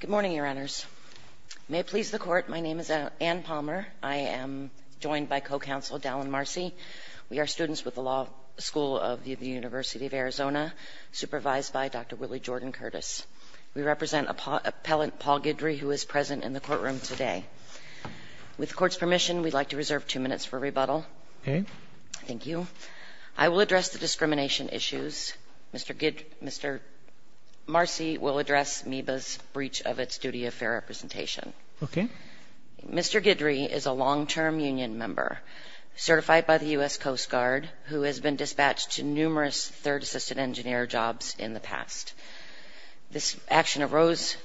Good morning, Your Honors. May it please the Court, my name is Ann Palmer. I am joined by co-counsel Dallin Marcy. We are students with the Law School of the University of Arizona, supervised by Dr. Willie Jordan Curtis. We represent Appellant Paul Guidry, who is present in the courtroom today. With the Court's permission, we'd like to reserve two minutes for rebuttal. Okay. Thank you. I will address the discrimination issues. Mr. Marcy will address MEBA's breach of its duty of fair representation. Okay. Mr. Guidry is a long-term union member, certified by the U.S. Coast Guard, who has been dispatched to numerous third assistant engineer jobs in the past. This action arose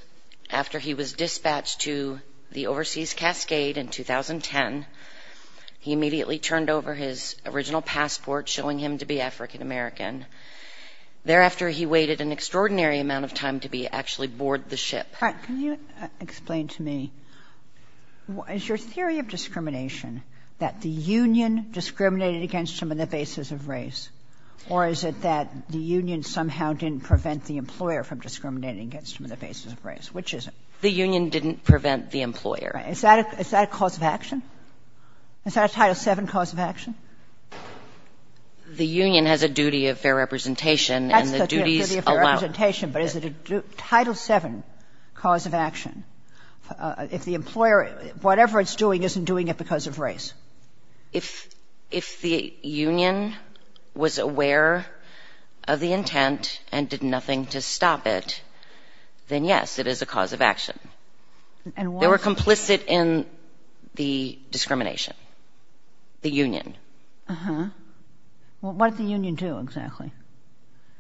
after he was dispatched to the overseas Cascade in 2010. He immediately turned over his original passport, showing him to be African American. Thereafter, he waited an extraordinary amount of time to be actually boarded the ship. All right. Can you explain to me, is your theory of discrimination that the union discriminated against him on the basis of race, or is it that the union somehow didn't prevent the employer from discriminating against him on the basis of race? Which is it? The union didn't prevent the employer. Is that a cause of action? Is that a Title VII cause of action? The union has a duty of fair representation, and the duties allow it. That's the duty of fair representation, but is it a Title VII cause of action? If the employer, whatever it's doing, isn't doing it because of race? If the union was aware of the intent and did nothing to stop it, then, yes, it is a cause of action. And why? It's complicit in the discrimination, the union. Uh-huh. Well, what did the union do, exactly?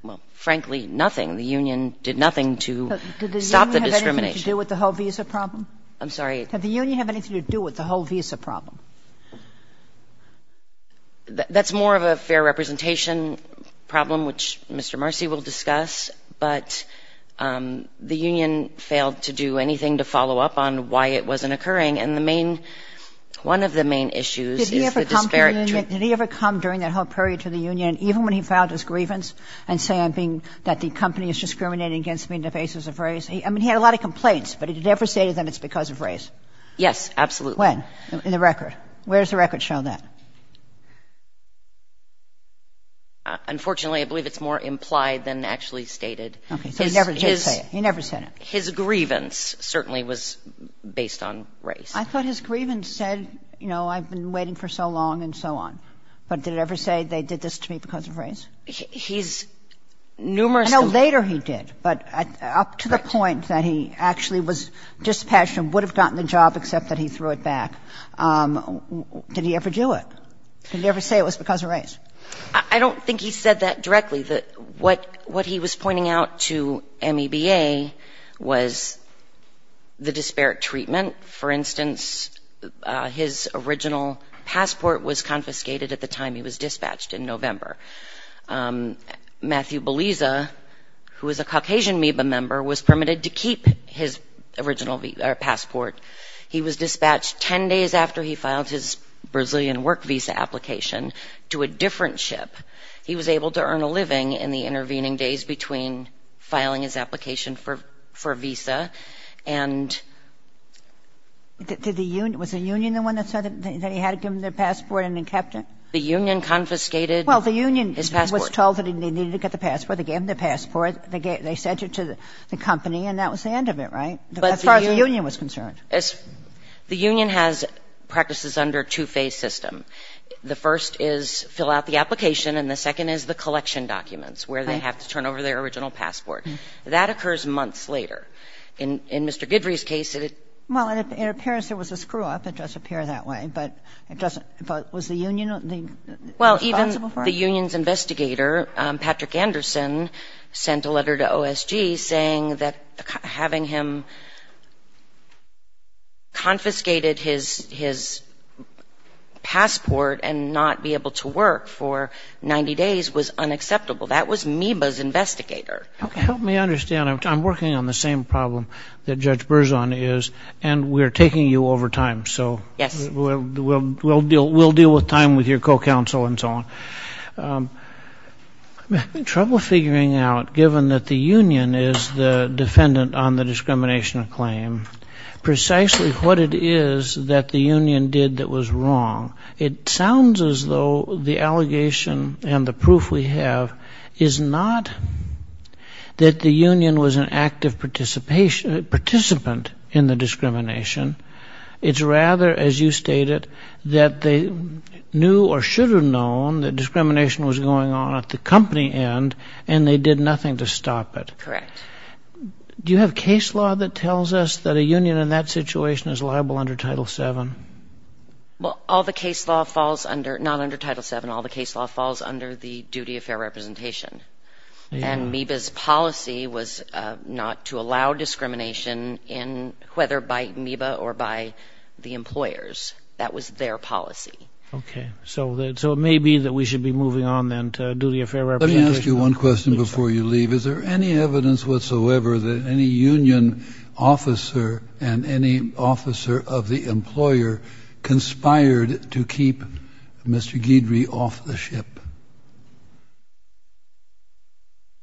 Well, frankly, nothing. The union did nothing to stop the discrimination. Did the union have anything to do with the whole visa problem? I'm sorry? Did the union have anything to do with the whole visa problem? That's more of a fair representation problem, which Mr. Marcy will discuss, but the union failed to do anything to follow up on why it wasn't occurring. And the main one of the main issues is the disparate. Did he ever come during that whole period to the union, even when he filed his grievance and say that the company is discriminating against me on the basis of race? I mean, he had a lot of complaints, but he never stated that it's because of race. Yes, absolutely. When? In the record. Where does the record show that? Unfortunately, I believe it's more implied than actually stated. Okay. So he never did say it. He never said it. His grievance certainly was based on race. I thought his grievance said, you know, I've been waiting for so long and so on. But did it ever say they did this to me because of race? He's numerous. I know later he did, but up to the point that he actually was dispassionate and would have gotten the job except that he threw it back, did he ever do it? Did he ever say it was because of race? I don't think he said that directly. What he was pointing out to MEBA was the disparate treatment. For instance, his original passport was confiscated at the time he was dispatched in November. Matthew Beliza, who is a Caucasian MIBA member, was permitted to keep his original passport. He was dispatched 10 days after he filed his Brazilian work visa application to a different ship. He was able to earn a living in the intervening days between filing his application for a visa. And did the union – was the union the one that said that he had to give them their passport and then kept it? The union confiscated his passport. Well, the union was told that he needed to get the passport. They gave him the passport. They sent it to the company, and that was the end of it, right, as far as the union was concerned? The union has practices under a two-phase system. The first is fill out the application, and the second is the collection documents, where they have to turn over their original passport. That occurs months later. In Mr. Guidry's case, it – Well, and it appears there was a screw-up. It does appear that way, but it doesn't – but was the union responsible for it? Well, even the union's investigator, Patrick Anderson, sent a letter to OSG saying that having him confiscated his passport and not be able to work for 90 days was unacceptable. That was MIBA's investigator. Help me understand. I'm working on the same problem that Judge Berzon is, and we're taking you over time. Yes. So we'll deal with time with your co-counsel and so on. I'm having trouble figuring out, given that the union is the defendant on the discrimination claim, precisely what it is that the union did that was wrong. It sounds as though the allegation and the proof we have is not that the union was an active participant in the discrimination. It's rather, as you stated, that they knew or should have known that discrimination was going on at the company end, and they did nothing to stop it. Correct. Do you have case law that tells us that a union in that situation is liable under Title VII? Well, all the case law falls under – not under Title VII. All the case law falls under the duty of fair representation. And MIBA's policy was not to allow discrimination, whether by MIBA or by the employers. That was their policy. Okay. So it may be that we should be moving on then to duty of fair representation. whatsoever that any union officer and any officer of the employer conspired to keep Mr. Guidry off the ship?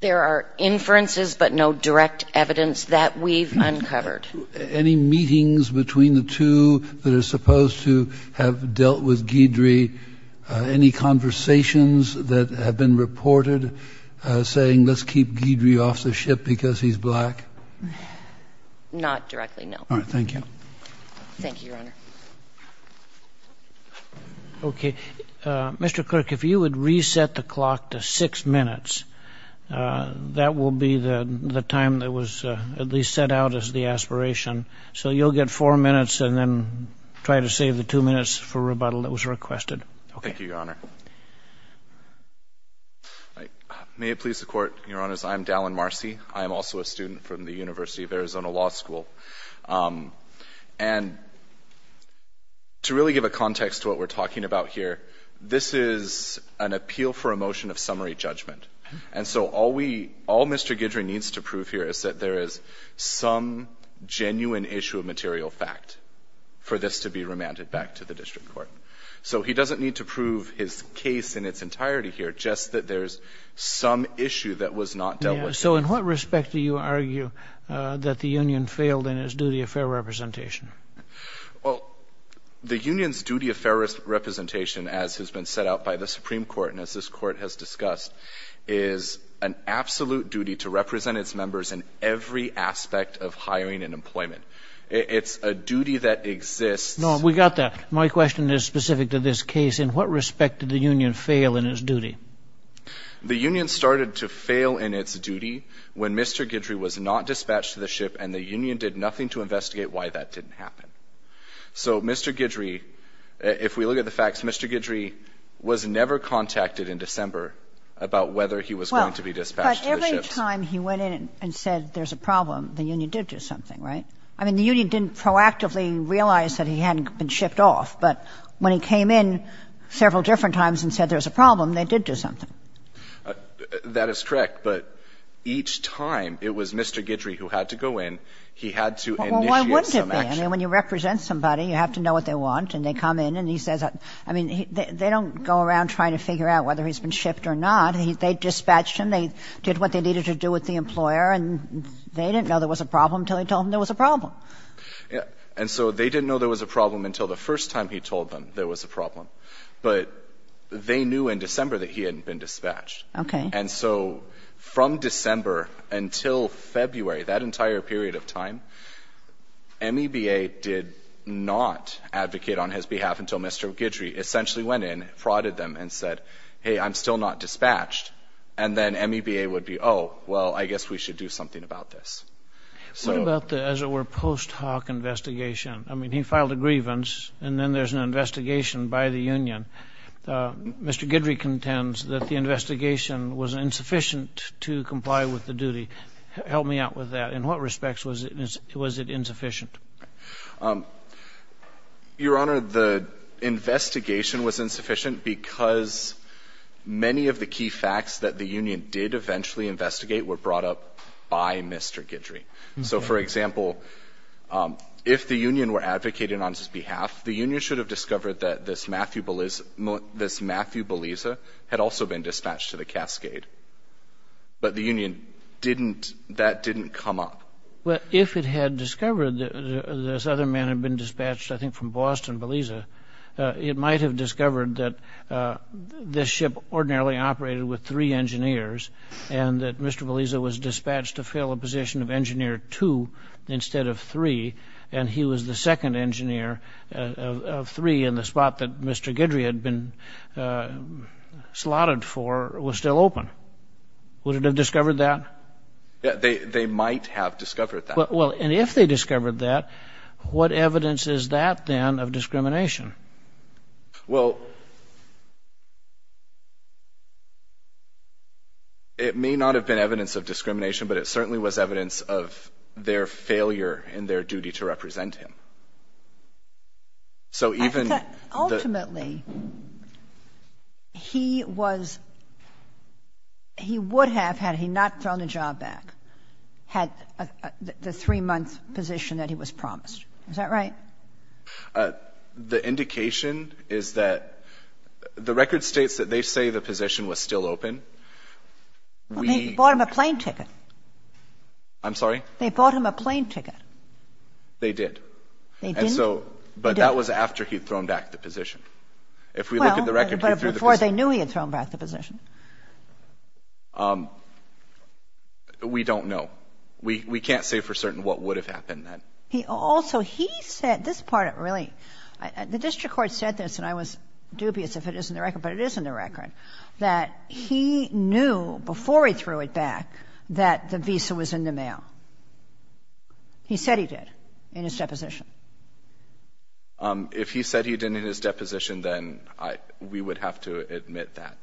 There are inferences, but no direct evidence that we've uncovered. Any meetings between the two that are supposed to have dealt with Guidry, any conversations that have been reported saying, let's keep Guidry off the ship because he's black? Not directly, no. All right. Thank you. Thank you, Your Honor. Okay. Mr. Clerk, if you would reset the clock to six minutes, that will be the time that was at least set out as the aspiration. So you'll get four minutes and then try to save the two minutes for rebuttal that was requested. Thank you, Your Honor. May it please the Court, Your Honors, I am Dallin Marcy. I am also a student from the University of Arizona Law School. And to really give a context to what we're talking about here, this is an appeal for a motion of summary judgment. And so all Mr. Guidry needs to prove here is that there is some genuine issue of material fact for this to be remanded back to the district court. So he doesn't need to prove his case in its entirety here, just that there's some issue that was not dealt with. So in what respect do you argue that the union failed in its duty of fair representation? Well, the union's duty of fair representation, as has been set out by the Supreme Court and as this Court has discussed, is an absolute duty to represent its members in every aspect of hiring and employment. It's a duty that exists... No, we got that. My question is specific to this case. In what respect did the union fail in its duty? The union started to fail in its duty when Mr. Guidry was not dispatched to the ship and the union did nothing to investigate why that didn't happen. So Mr. Guidry, if we look at the facts, Mr. Guidry was never contacted in December about whether he was going to be dispatched to the ship. Well, but every time he went in and said there's a problem, the union did do something, right? I mean, the union didn't proactively realize that he hadn't been shipped off. But when he came in several different times and said there was a problem, they did do something. That is correct. But each time it was Mr. Guidry who had to go in, he had to initiate some action. Well, why wouldn't it be? I mean, when you represent somebody, you have to know what they want, and they come in and he says that. I mean, they don't go around trying to figure out whether he's been shipped or not. They dispatched him. They did what they needed to do with the employer, and they didn't know there was a problem until they told him there was a problem. And so they didn't know there was a problem until the first time he told them there was a problem. But they knew in December that he hadn't been dispatched. Okay. And so from December until February, that entire period of time, MEBA did not advocate on his behalf until Mr. Guidry essentially went in, frauded them, and said, hey, I'm still not dispatched. And then MEBA would be, oh, well, I guess we should do something about this. What about the, as it were, post hoc investigation? I mean, he filed a grievance, and then there's an investigation by the union. Mr. Guidry contends that the investigation was insufficient to comply with the duty. Help me out with that. In what respects was it insufficient? Your Honor, the investigation was insufficient because many of the key facts that the union did eventually investigate were brought up by Mr. Guidry. So, for example, if the union were advocated on his behalf, the union should have discovered that this Matthew Beliza had also been dispatched to the Cascade. But the union didn't, that didn't come up. But if it had discovered that this other man had been dispatched, I think from Boston, Beliza, it might have discovered that this ship ordinarily operated with three engineers and that Mr. Beliza was dispatched to fill a position of engineer two instead of three, and he was the second engineer of three in the spot that Mr. Guidry had been slotted for was still open. Would it have discovered that? They might have discovered that. Well, and if they discovered that, what evidence is that, then, of discrimination? Well, it may not have been evidence of discrimination, but it certainly was evidence of their failure in their duty to represent him. So even the — Ultimately, he was — he would have, had he not thrown the job back, had the three-month position that he was promised. Is that right? The indication is that the record states that they say the position was still open. We — Well, they bought him a plane ticket. I'm sorry? They bought him a plane ticket. They did. And so — They didn't — But that was after he'd thrown back the position. If we look at the record, he threw the position. Well, but before they knew he had thrown back the position. We don't know. We can't say for certain what would have happened then. He also — he said — this part, it really — the district court said this, and I was dubious if it is in the record, but it is in the record, that he knew before he threw it back that the visa was in the mail. He said he did in his deposition. If he said he did in his deposition, then we would have to admit that.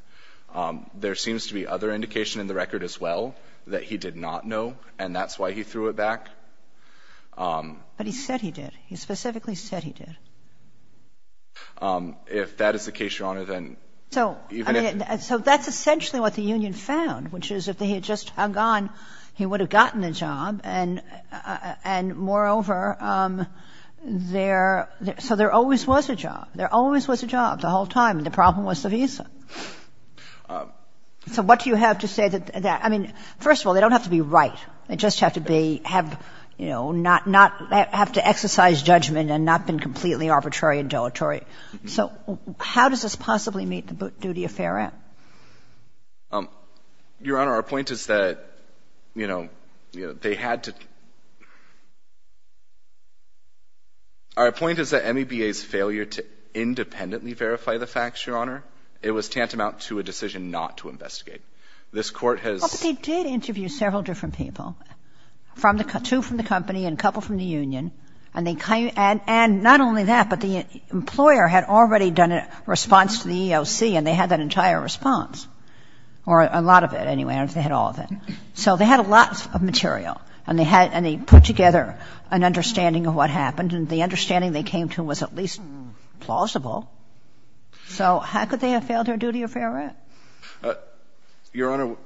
There seems to be other indication in the record as well that he did not know, and that's why he threw it back. But he said he did. He specifically said he did. If that is the case, Your Honor, then — So, I mean, so that's essentially what the union found, which is if they had just gone, he would have gotten a job, and moreover, there — so there always was a job. There always was a job the whole time, and the problem was the visa. So what do you have to say that — I mean, first of all, they don't have to be right. They just have to be — have, you know, not — have to exercise judgment and not been completely arbitrary and deletery. So how does this possibly meet the duty of fair end? Your Honor, our point is that, you know, they had to — our point is that MEBA's failure to independently verify the facts, Your Honor, it was tantamount to a decision not to investigate. This Court has — But they did interview several different people, two from the company and a couple from the union, and they — and not only that, but the employer had already done a response to the EEOC, and they had that entire response, or a lot of it, anyway, or they had all of it. So they had a lot of material, and they had — and they put together an understanding of what happened, and the understanding they came to was at least plausible. So how could they have failed their duty of fair end? Your Honor,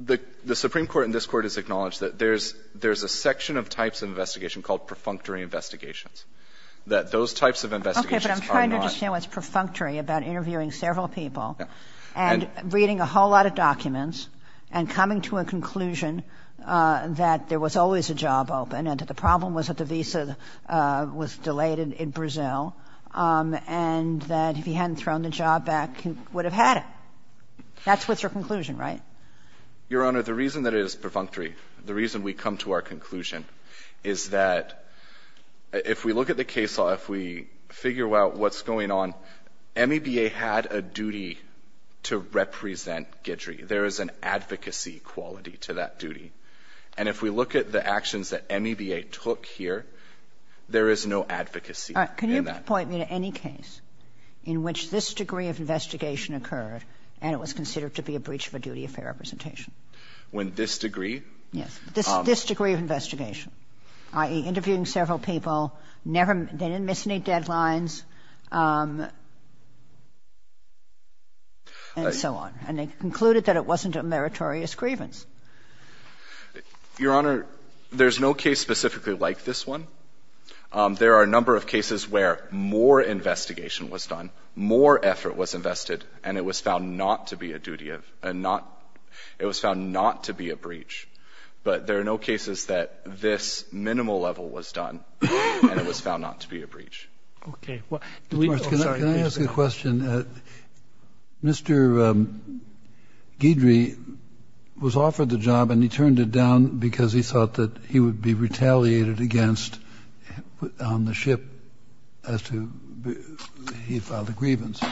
the Supreme Court in this Court has acknowledged that there's — there's a section of types of investigation called perfunctory investigations, that those types of investigations are not — Okay, but I'm trying to understand what's perfunctory about interviewing several people and reading a whole lot of documents and coming to a conclusion that there was always a job open and that the problem was that the visa was delayed in Brazil and that if he hadn't thrown the job back, he would have had it. That's what's your conclusion, right? Your Honor, the reason that it is perfunctory, the reason we come to our conclusion is that if we look at the case law, if we figure out what's going on, MEBA had a duty to represent Guidry. There is an advocacy quality to that duty. And if we look at the actions that MEBA took here, there is no advocacy in that. All right. Can you point me to any case in which this degree of investigation occurred and it was considered to be a breach of a duty of fair representation? When this degree? Yes. This degree of investigation, i.e., interviewing several people, never — they didn't miss any deadlines, and so on. And they concluded that it wasn't a meritorious grievance. Your Honor, there's no case specifically like this one. There are a number of cases where more investigation was done, more effort was invested, and it was found not to be a duty of — it was found not to be a breach. But there are no cases that this minimal level was done and it was found not to be a breach. Okay. Well, do we — Can I ask a question? Mr. Guidry was offered the job and he turned it down because he thought that he would be retaliated against on the ship as to — he filed a grievance.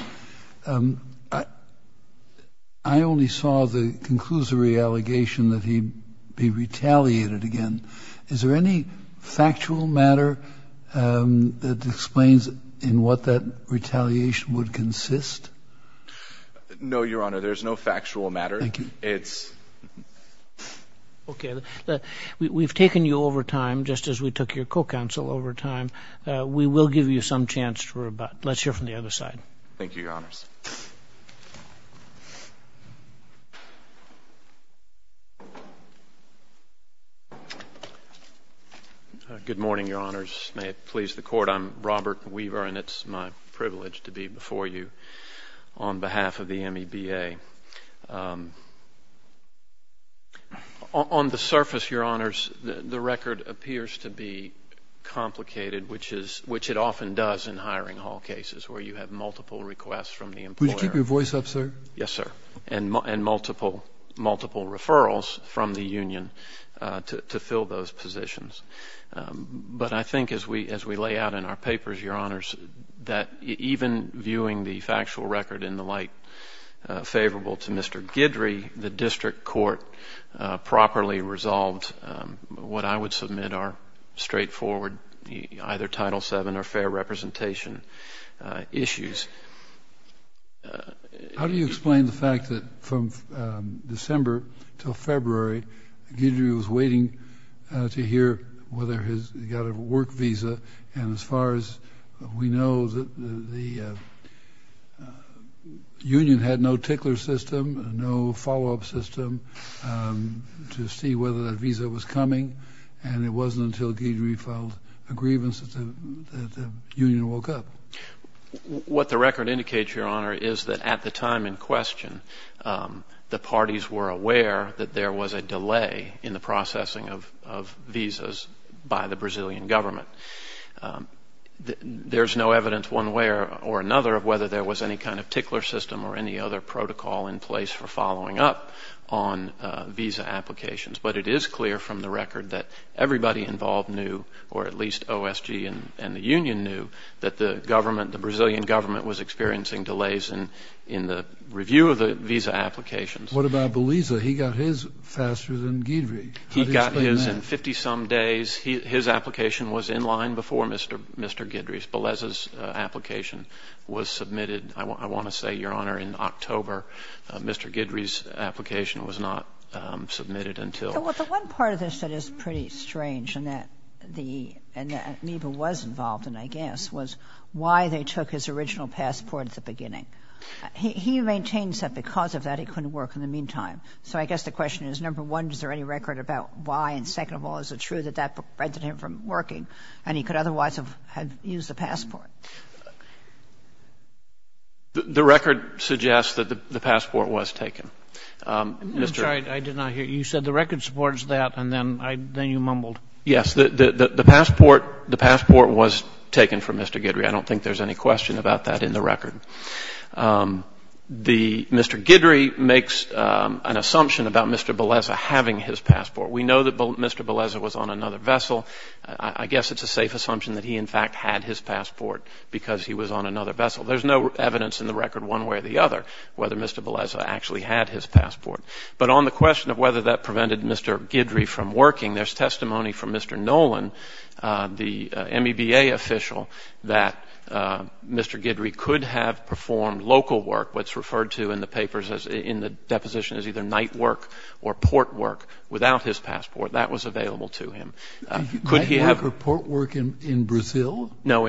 I only saw the conclusory allegation that he'd be retaliated against. Is there any factual matter that explains in what that retaliation would consist? No, Your Honor. There's no factual matter. Thank you. It's — Okay. We've taken you over time, just as we took your co-counsel over time. We will give you some chance for about — let's hear from the other side. Thank you, Your Honors. Good morning, Your Honors. May it please the Court. I'm Robert Weaver and it's my privilege to be before you on behalf of the MEBA. On the surface, Your Honors, the record appears to be complicated, which it often does in multiple requests from the employer. Would you keep your voice up, sir? Yes, sir. And multiple referrals from the union to fill those positions. But I think as we lay out in our papers, Your Honors, that even viewing the factual record in the light favorable to Mr. Guidry, the district court properly resolved what I would submit are straightforward, either Title VII or fair representation issues. How do you explain the fact that from December until February, Guidry was waiting to hear whether he's got a work visa? And as far as we know, the union had no tickler system, no follow-up system to see whether that visa was coming, and it wasn't until Guidry filed a grievance that the union woke up. What the record indicates, Your Honor, is that at the time in question, the parties were aware that there was a delay in the processing of visas by the Brazilian government. There's no evidence one way or another of whether there was any kind of tickler system or any other protocol in place for following up on visa applications. But it is clear from the record that everybody involved knew, or at least OSG and the union knew, that the Brazilian government was experiencing delays in the review of the visa applications. What about Beleza? He got his faster than Guidry. How do you explain that? He got his in 50-some days. His application was in line before Mr. Guidry's. Beleza's application was submitted. I want to say, Your Honor, in October, Mr. Guidry's application was not submitted until the end. Well, the one part of this that is pretty strange, and that the neighbor was involved in, I guess, was why they took his original passport at the beginning. He maintains that because of that he couldn't work in the meantime. So I guess the question is, number one, is there any record about why, and second of all, is it true that that prevented him from working and he could otherwise have used the passport? The record suggests that the passport was taken. I'm sorry. I did not hear you. You said the record supports that, and then you mumbled. Yes. The passport was taken from Mr. Guidry. I don't think there's any question about that in the record. Mr. Guidry makes an assumption about Mr. Beleza having his passport. We know that Mr. Beleza was on another vessel. I guess it's a safe assumption that he, in fact, had his passport because he was on another vessel. There's no evidence in the record, one way or the other, whether Mr. Beleza actually had his passport. But on the question of whether that prevented Mr. Guidry from working, there's testimony from Mr. Nolan, the MEBA official, that Mr. Guidry could have performed local work, what's referred to in the papers in the deposition as either night work or port work, without his passport. That was available to him. Could he have? Night work or port work in Brazil? No,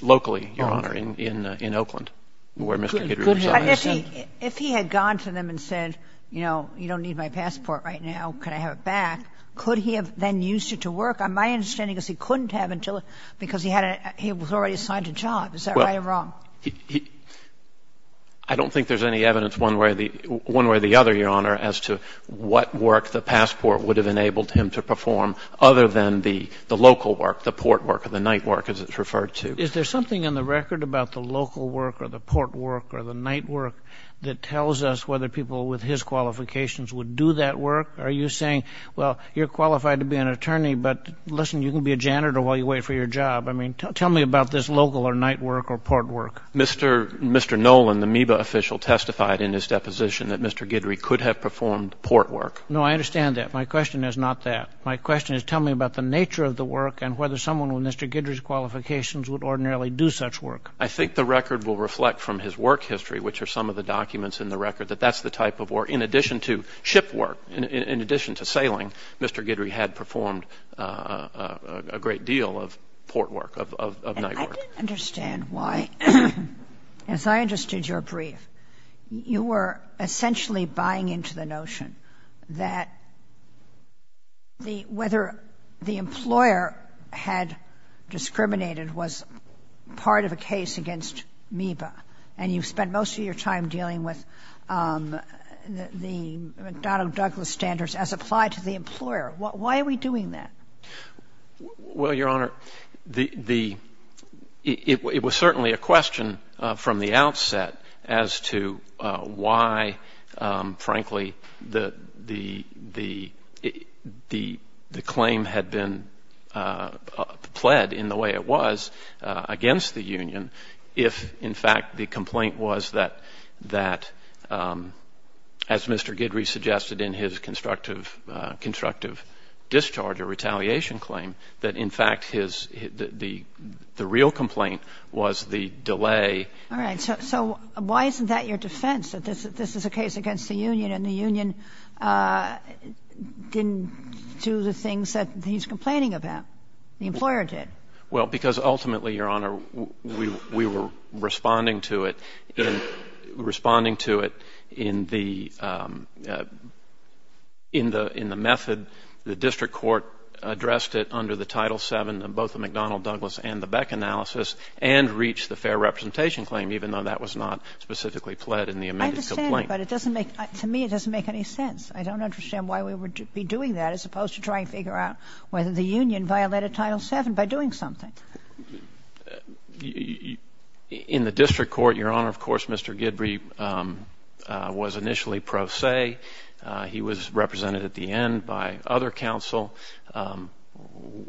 locally, Your Honor, in Oakland, where Mr. Guidry resides. But if he had gone to them and said, you know, you don't need my passport right now, can I have it back, could he have then used it to work? My understanding is he couldn't have until he was already assigned a job. Is that right or wrong? I don't think there's any evidence one way or the other, Your Honor, as to what work the passport would have enabled him to perform, other than the local work, the port work or the night work, as it's referred to. Is there something in the record about the local work or the port work or the night work that tells us whether people with his qualifications would do that work? Are you saying, well, you're qualified to be an attorney, but listen, you can be a janitor while you wait for your job. I mean, tell me about this local or night work or port work. Mr. Nolan, the MEBA official, testified in his deposition that Mr. Guidry could have performed port work. No, I understand that. My question is not that. My question is, tell me about the nature of the work and whether someone with Mr. Guidry's qualifications would ordinarily do such work. I think the record will reflect from his work history, which are some of the documents in the record, that that's the type of work, in addition to ship work, in addition to sailing, Mr. Guidry had performed a great deal of port work, of night work. And I didn't understand why, as I understood your brief, you were essentially buying into the notion that the — whether the employer had discriminated was part of a case against MEBA. And you spent most of your time dealing with the McDonnell-Douglas standards as applied to the employer. Why are we doing that? Well, Your Honor, the — it was certainly a question from the outset as to why frankly the claim had been pled in the way it was against the union if, in fact, the complaint was that, as Mr. Guidry suggested in his constructive discharge or retaliation claim, that in fact his — the real complaint was the delay. All right. So why isn't that your defense, that this is a case against the union and the union didn't do the things that he's complaining about? The employer did. Well, because ultimately, Your Honor, we were responding to it in — responding to it in the — in the method the district court addressed it under the Title VII of both the McDonnell-Douglas and the Beck analysis and reached the fair representation claim, even though that was not specifically pled in the amended complaint. I understand, but it doesn't make — to me, it doesn't make any sense. I don't understand why we would be doing that as opposed to trying to figure out whether the union violated Title VII by doing something. In the district court, Your Honor, of course, Mr. Guidry was initially pro se. He was represented at the end by other counsel.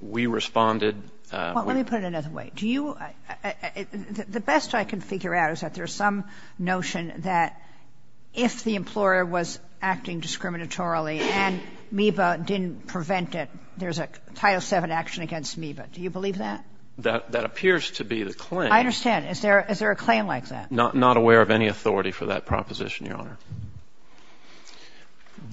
We responded with — Well, let me put it another way. Do you — the best I can figure out is that there's some notion that if the employer was acting discriminatorily and MEBA didn't prevent it, there's a Title VII action against MEBA. Do you believe that? That appears to be the claim. I understand. Is there a claim like that? Not aware of any authority for that proposition, Your Honor.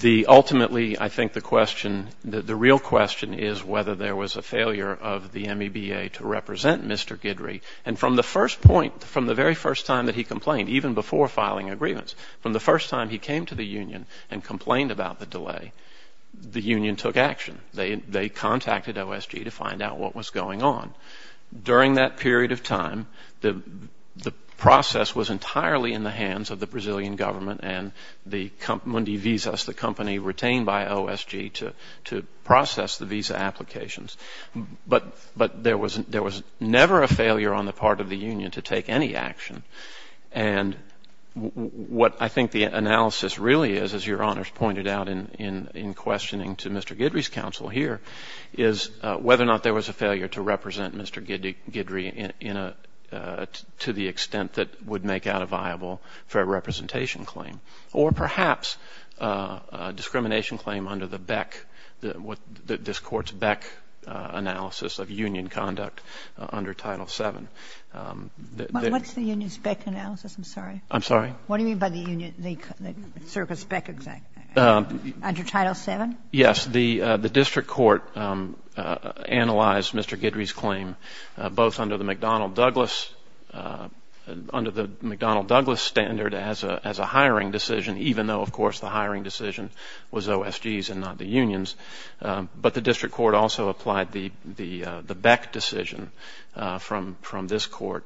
The — ultimately, I think the question — the real question is whether there was a failure of the MEBA to represent Mr. Guidry. And from the first point, from the very first time that he complained, even before filing agreements, from the first time he came to the union and complained about the delay, the union took action. They contacted OSG to find out what was going on. During that period of time, the process was entirely in the hands of the Brazilian government Mundi Visas, the company retained by OSG, to process the visa applications. But there was never a failure on the part of the union to take any action. And what I think the analysis really is, as Your Honors pointed out in questioning to Mr. Guidry's counsel here, is whether or not there was a failure to represent Mr. Guidry in a — to the extent that would make out a viable fair representation claim, or perhaps a discrimination claim under the BEC, this Court's BEC analysis of union conduct under Title VII. What's the union's BEC analysis? I'm sorry. I'm sorry? What do you mean by the union — the circuit's BEC — under Title VII? Yes. The District Court analyzed Mr. Guidry's claim both under the McDonnell-Douglas — under the McDonnell-Douglas standard as a hiring decision, even though, of course, the hiring decision was OSG's and not the union's. But the District Court also applied the BEC decision from this Court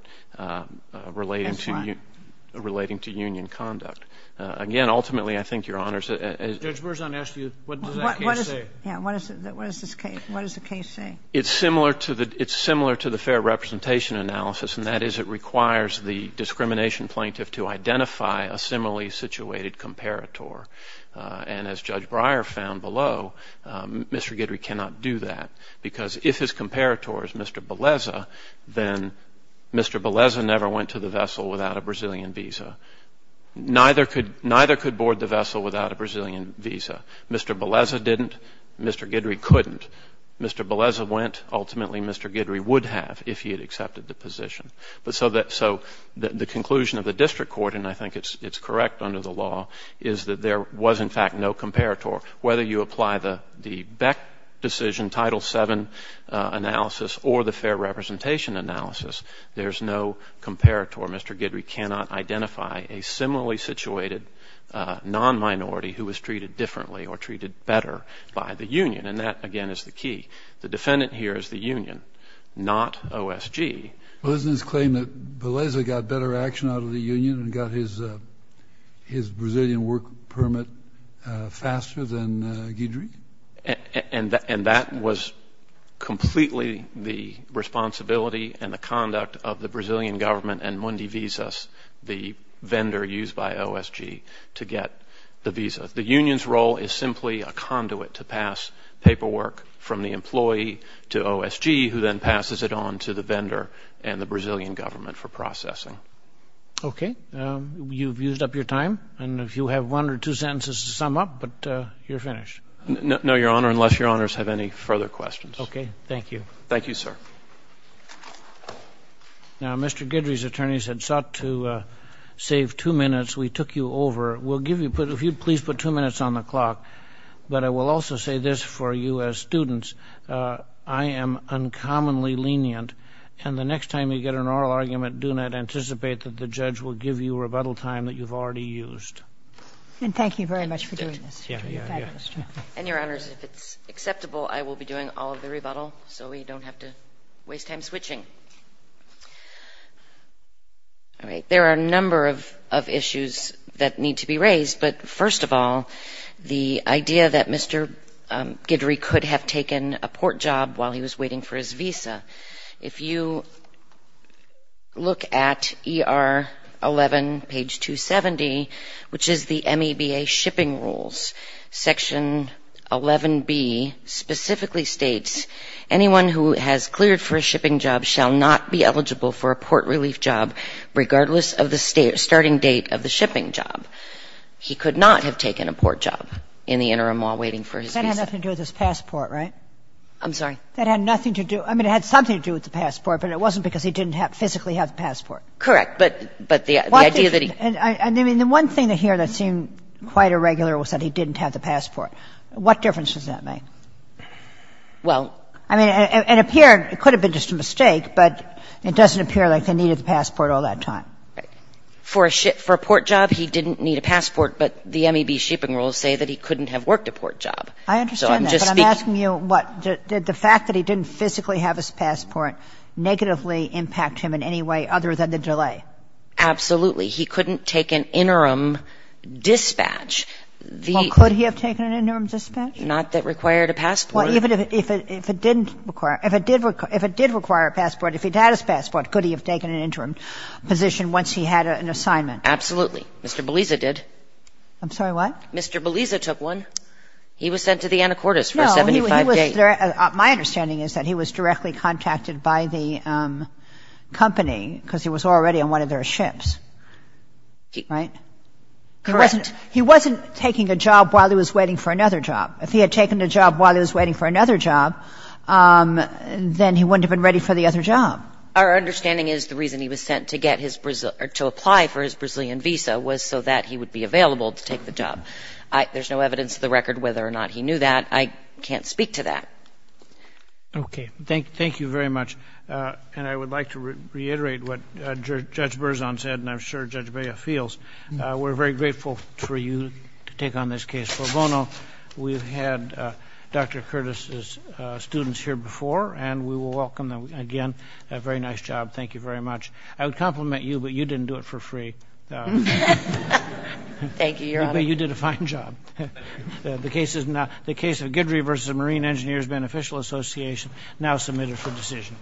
relating to — That's right. — relating to union conduct. Again, ultimately, I think Your Honors — Judge Berzon asked you, what does that case say? Yeah. What does this case — what does the case say? It's similar to the — it's similar to the fair representation analysis, and that is, it requires the discrimination plaintiff to identify a similarly situated comparator. And as Judge Breyer found below, Mr. Guidry cannot do that, because if his comparator is Mr. Beleza, then Mr. Beleza never went to the vessel without a Brazilian visa. Neither could — neither could board the vessel without a Brazilian visa. Mr. Beleza didn't. Mr. Guidry couldn't. Mr. Beleza went. Ultimately, Mr. Guidry would have if he had accepted the position. But so that — so the conclusion of the District Court, and I think it's correct under the law, is that there was, in fact, no comparator. Whether you apply the BEC decision, Title VII analysis, or the fair representation analysis, there's no comparator. Therefore, Mr. Guidry cannot identify a similarly situated non-minority who was treated differently or treated better by the union, and that, again, is the key. The defendant here is the union, not OSG. Well, isn't this claim that Beleza got better action out of the union and got his Brazilian work permit faster than Guidry? And that was completely the responsibility and the conduct of the Brazilian government and Mundi Visas, the vendor used by OSG, to get the visa. The union's role is simply a conduit to pass paperwork from the employee to OSG, who then passes it on to the vendor and the Brazilian government for processing. Okay. You've used up your time, and if you have one or two sentences to sum up, but you're finished. No, Your Honor, unless Your Honors have any further questions. Okay. Thank you. Thank you, sir. Now, Mr. Guidry's attorneys had sought to save two minutes. We took you over. We'll give you — if you'd please put two minutes on the clock. But I will also say this for you as students. I am uncommonly lenient, and the next time you get an oral argument, do not anticipate that the judge will give you rebuttal time that you've already used. And thank you very much for doing this. Yeah, yeah, yeah. And, Your Honors, if it's acceptable, I will be doing all of the rebuttal, so we don't have to waste time switching. All right. There are a number of issues that need to be raised. But first of all, the idea that Mr. Guidry could have taken a port job while he was waiting for his visa. If you look at ER 11, page 270, which is the MEBA shipping rules, Section 11B specifically states, anyone who has cleared for a shipping job shall not be eligible for a port relief job, regardless of the starting date of the shipping job. He could not have taken a port job in the interim while waiting for his visa. That had nothing to do with his passport, right? I'm sorry? That had nothing to do — I mean, it had something to do with the passport, but it wasn't because he didn't physically have the passport. Correct. But the idea that he — I mean, the one thing here that seemed quite irregular was that he didn't have the passport. What difference does that make? Well — I mean, it appeared — it could have been just a mistake, but it doesn't appear like they needed the passport all that time. Right. For a port job, he didn't need a passport, but the MEB shipping rules say that he couldn't have worked a port job. I understand that, but I'm asking you what? Did the fact that he didn't physically have his passport negatively impact him in any way other than the delay? Absolutely. He couldn't take an interim dispatch. Well, could he have taken an interim dispatch? Not that required a passport. Well, even if it didn't require — if it did require a passport, if he'd had his passport, could he have taken an interim position once he had an assignment? Absolutely. Mr. Beliza did. I'm sorry, what? Mr. Beliza took one. He was sent to the Anacortes for a 75-day — No, he was — my understanding is that he was directly contacted by the company because he was already on one of their ships. Right? Correct. He wasn't — he wasn't taking a job while he was waiting for another job. If he had taken a job while he was waiting for another job, then he wouldn't have been ready for the other job. Our understanding is the reason he was sent to get his — to apply for his Brazilian visa was so that he would be available to take the job. There's no evidence to the record whether or not he knew that. I can't speak to that. Okay. Thank you very much. And I would like to reiterate what Judge Berzon said, and I'm sure Judge Bea feels. We're very grateful for you to take on this case. For Bono, we've had Dr. Curtis's students here before, and we will welcome them again. A very nice job. Thank you very much. I would compliment you, but you didn't do it for free. Thank you, Your Honor. But you did a fine job. The case of Guidry v. Marine Engineers Beneficial Association now submitted for decision.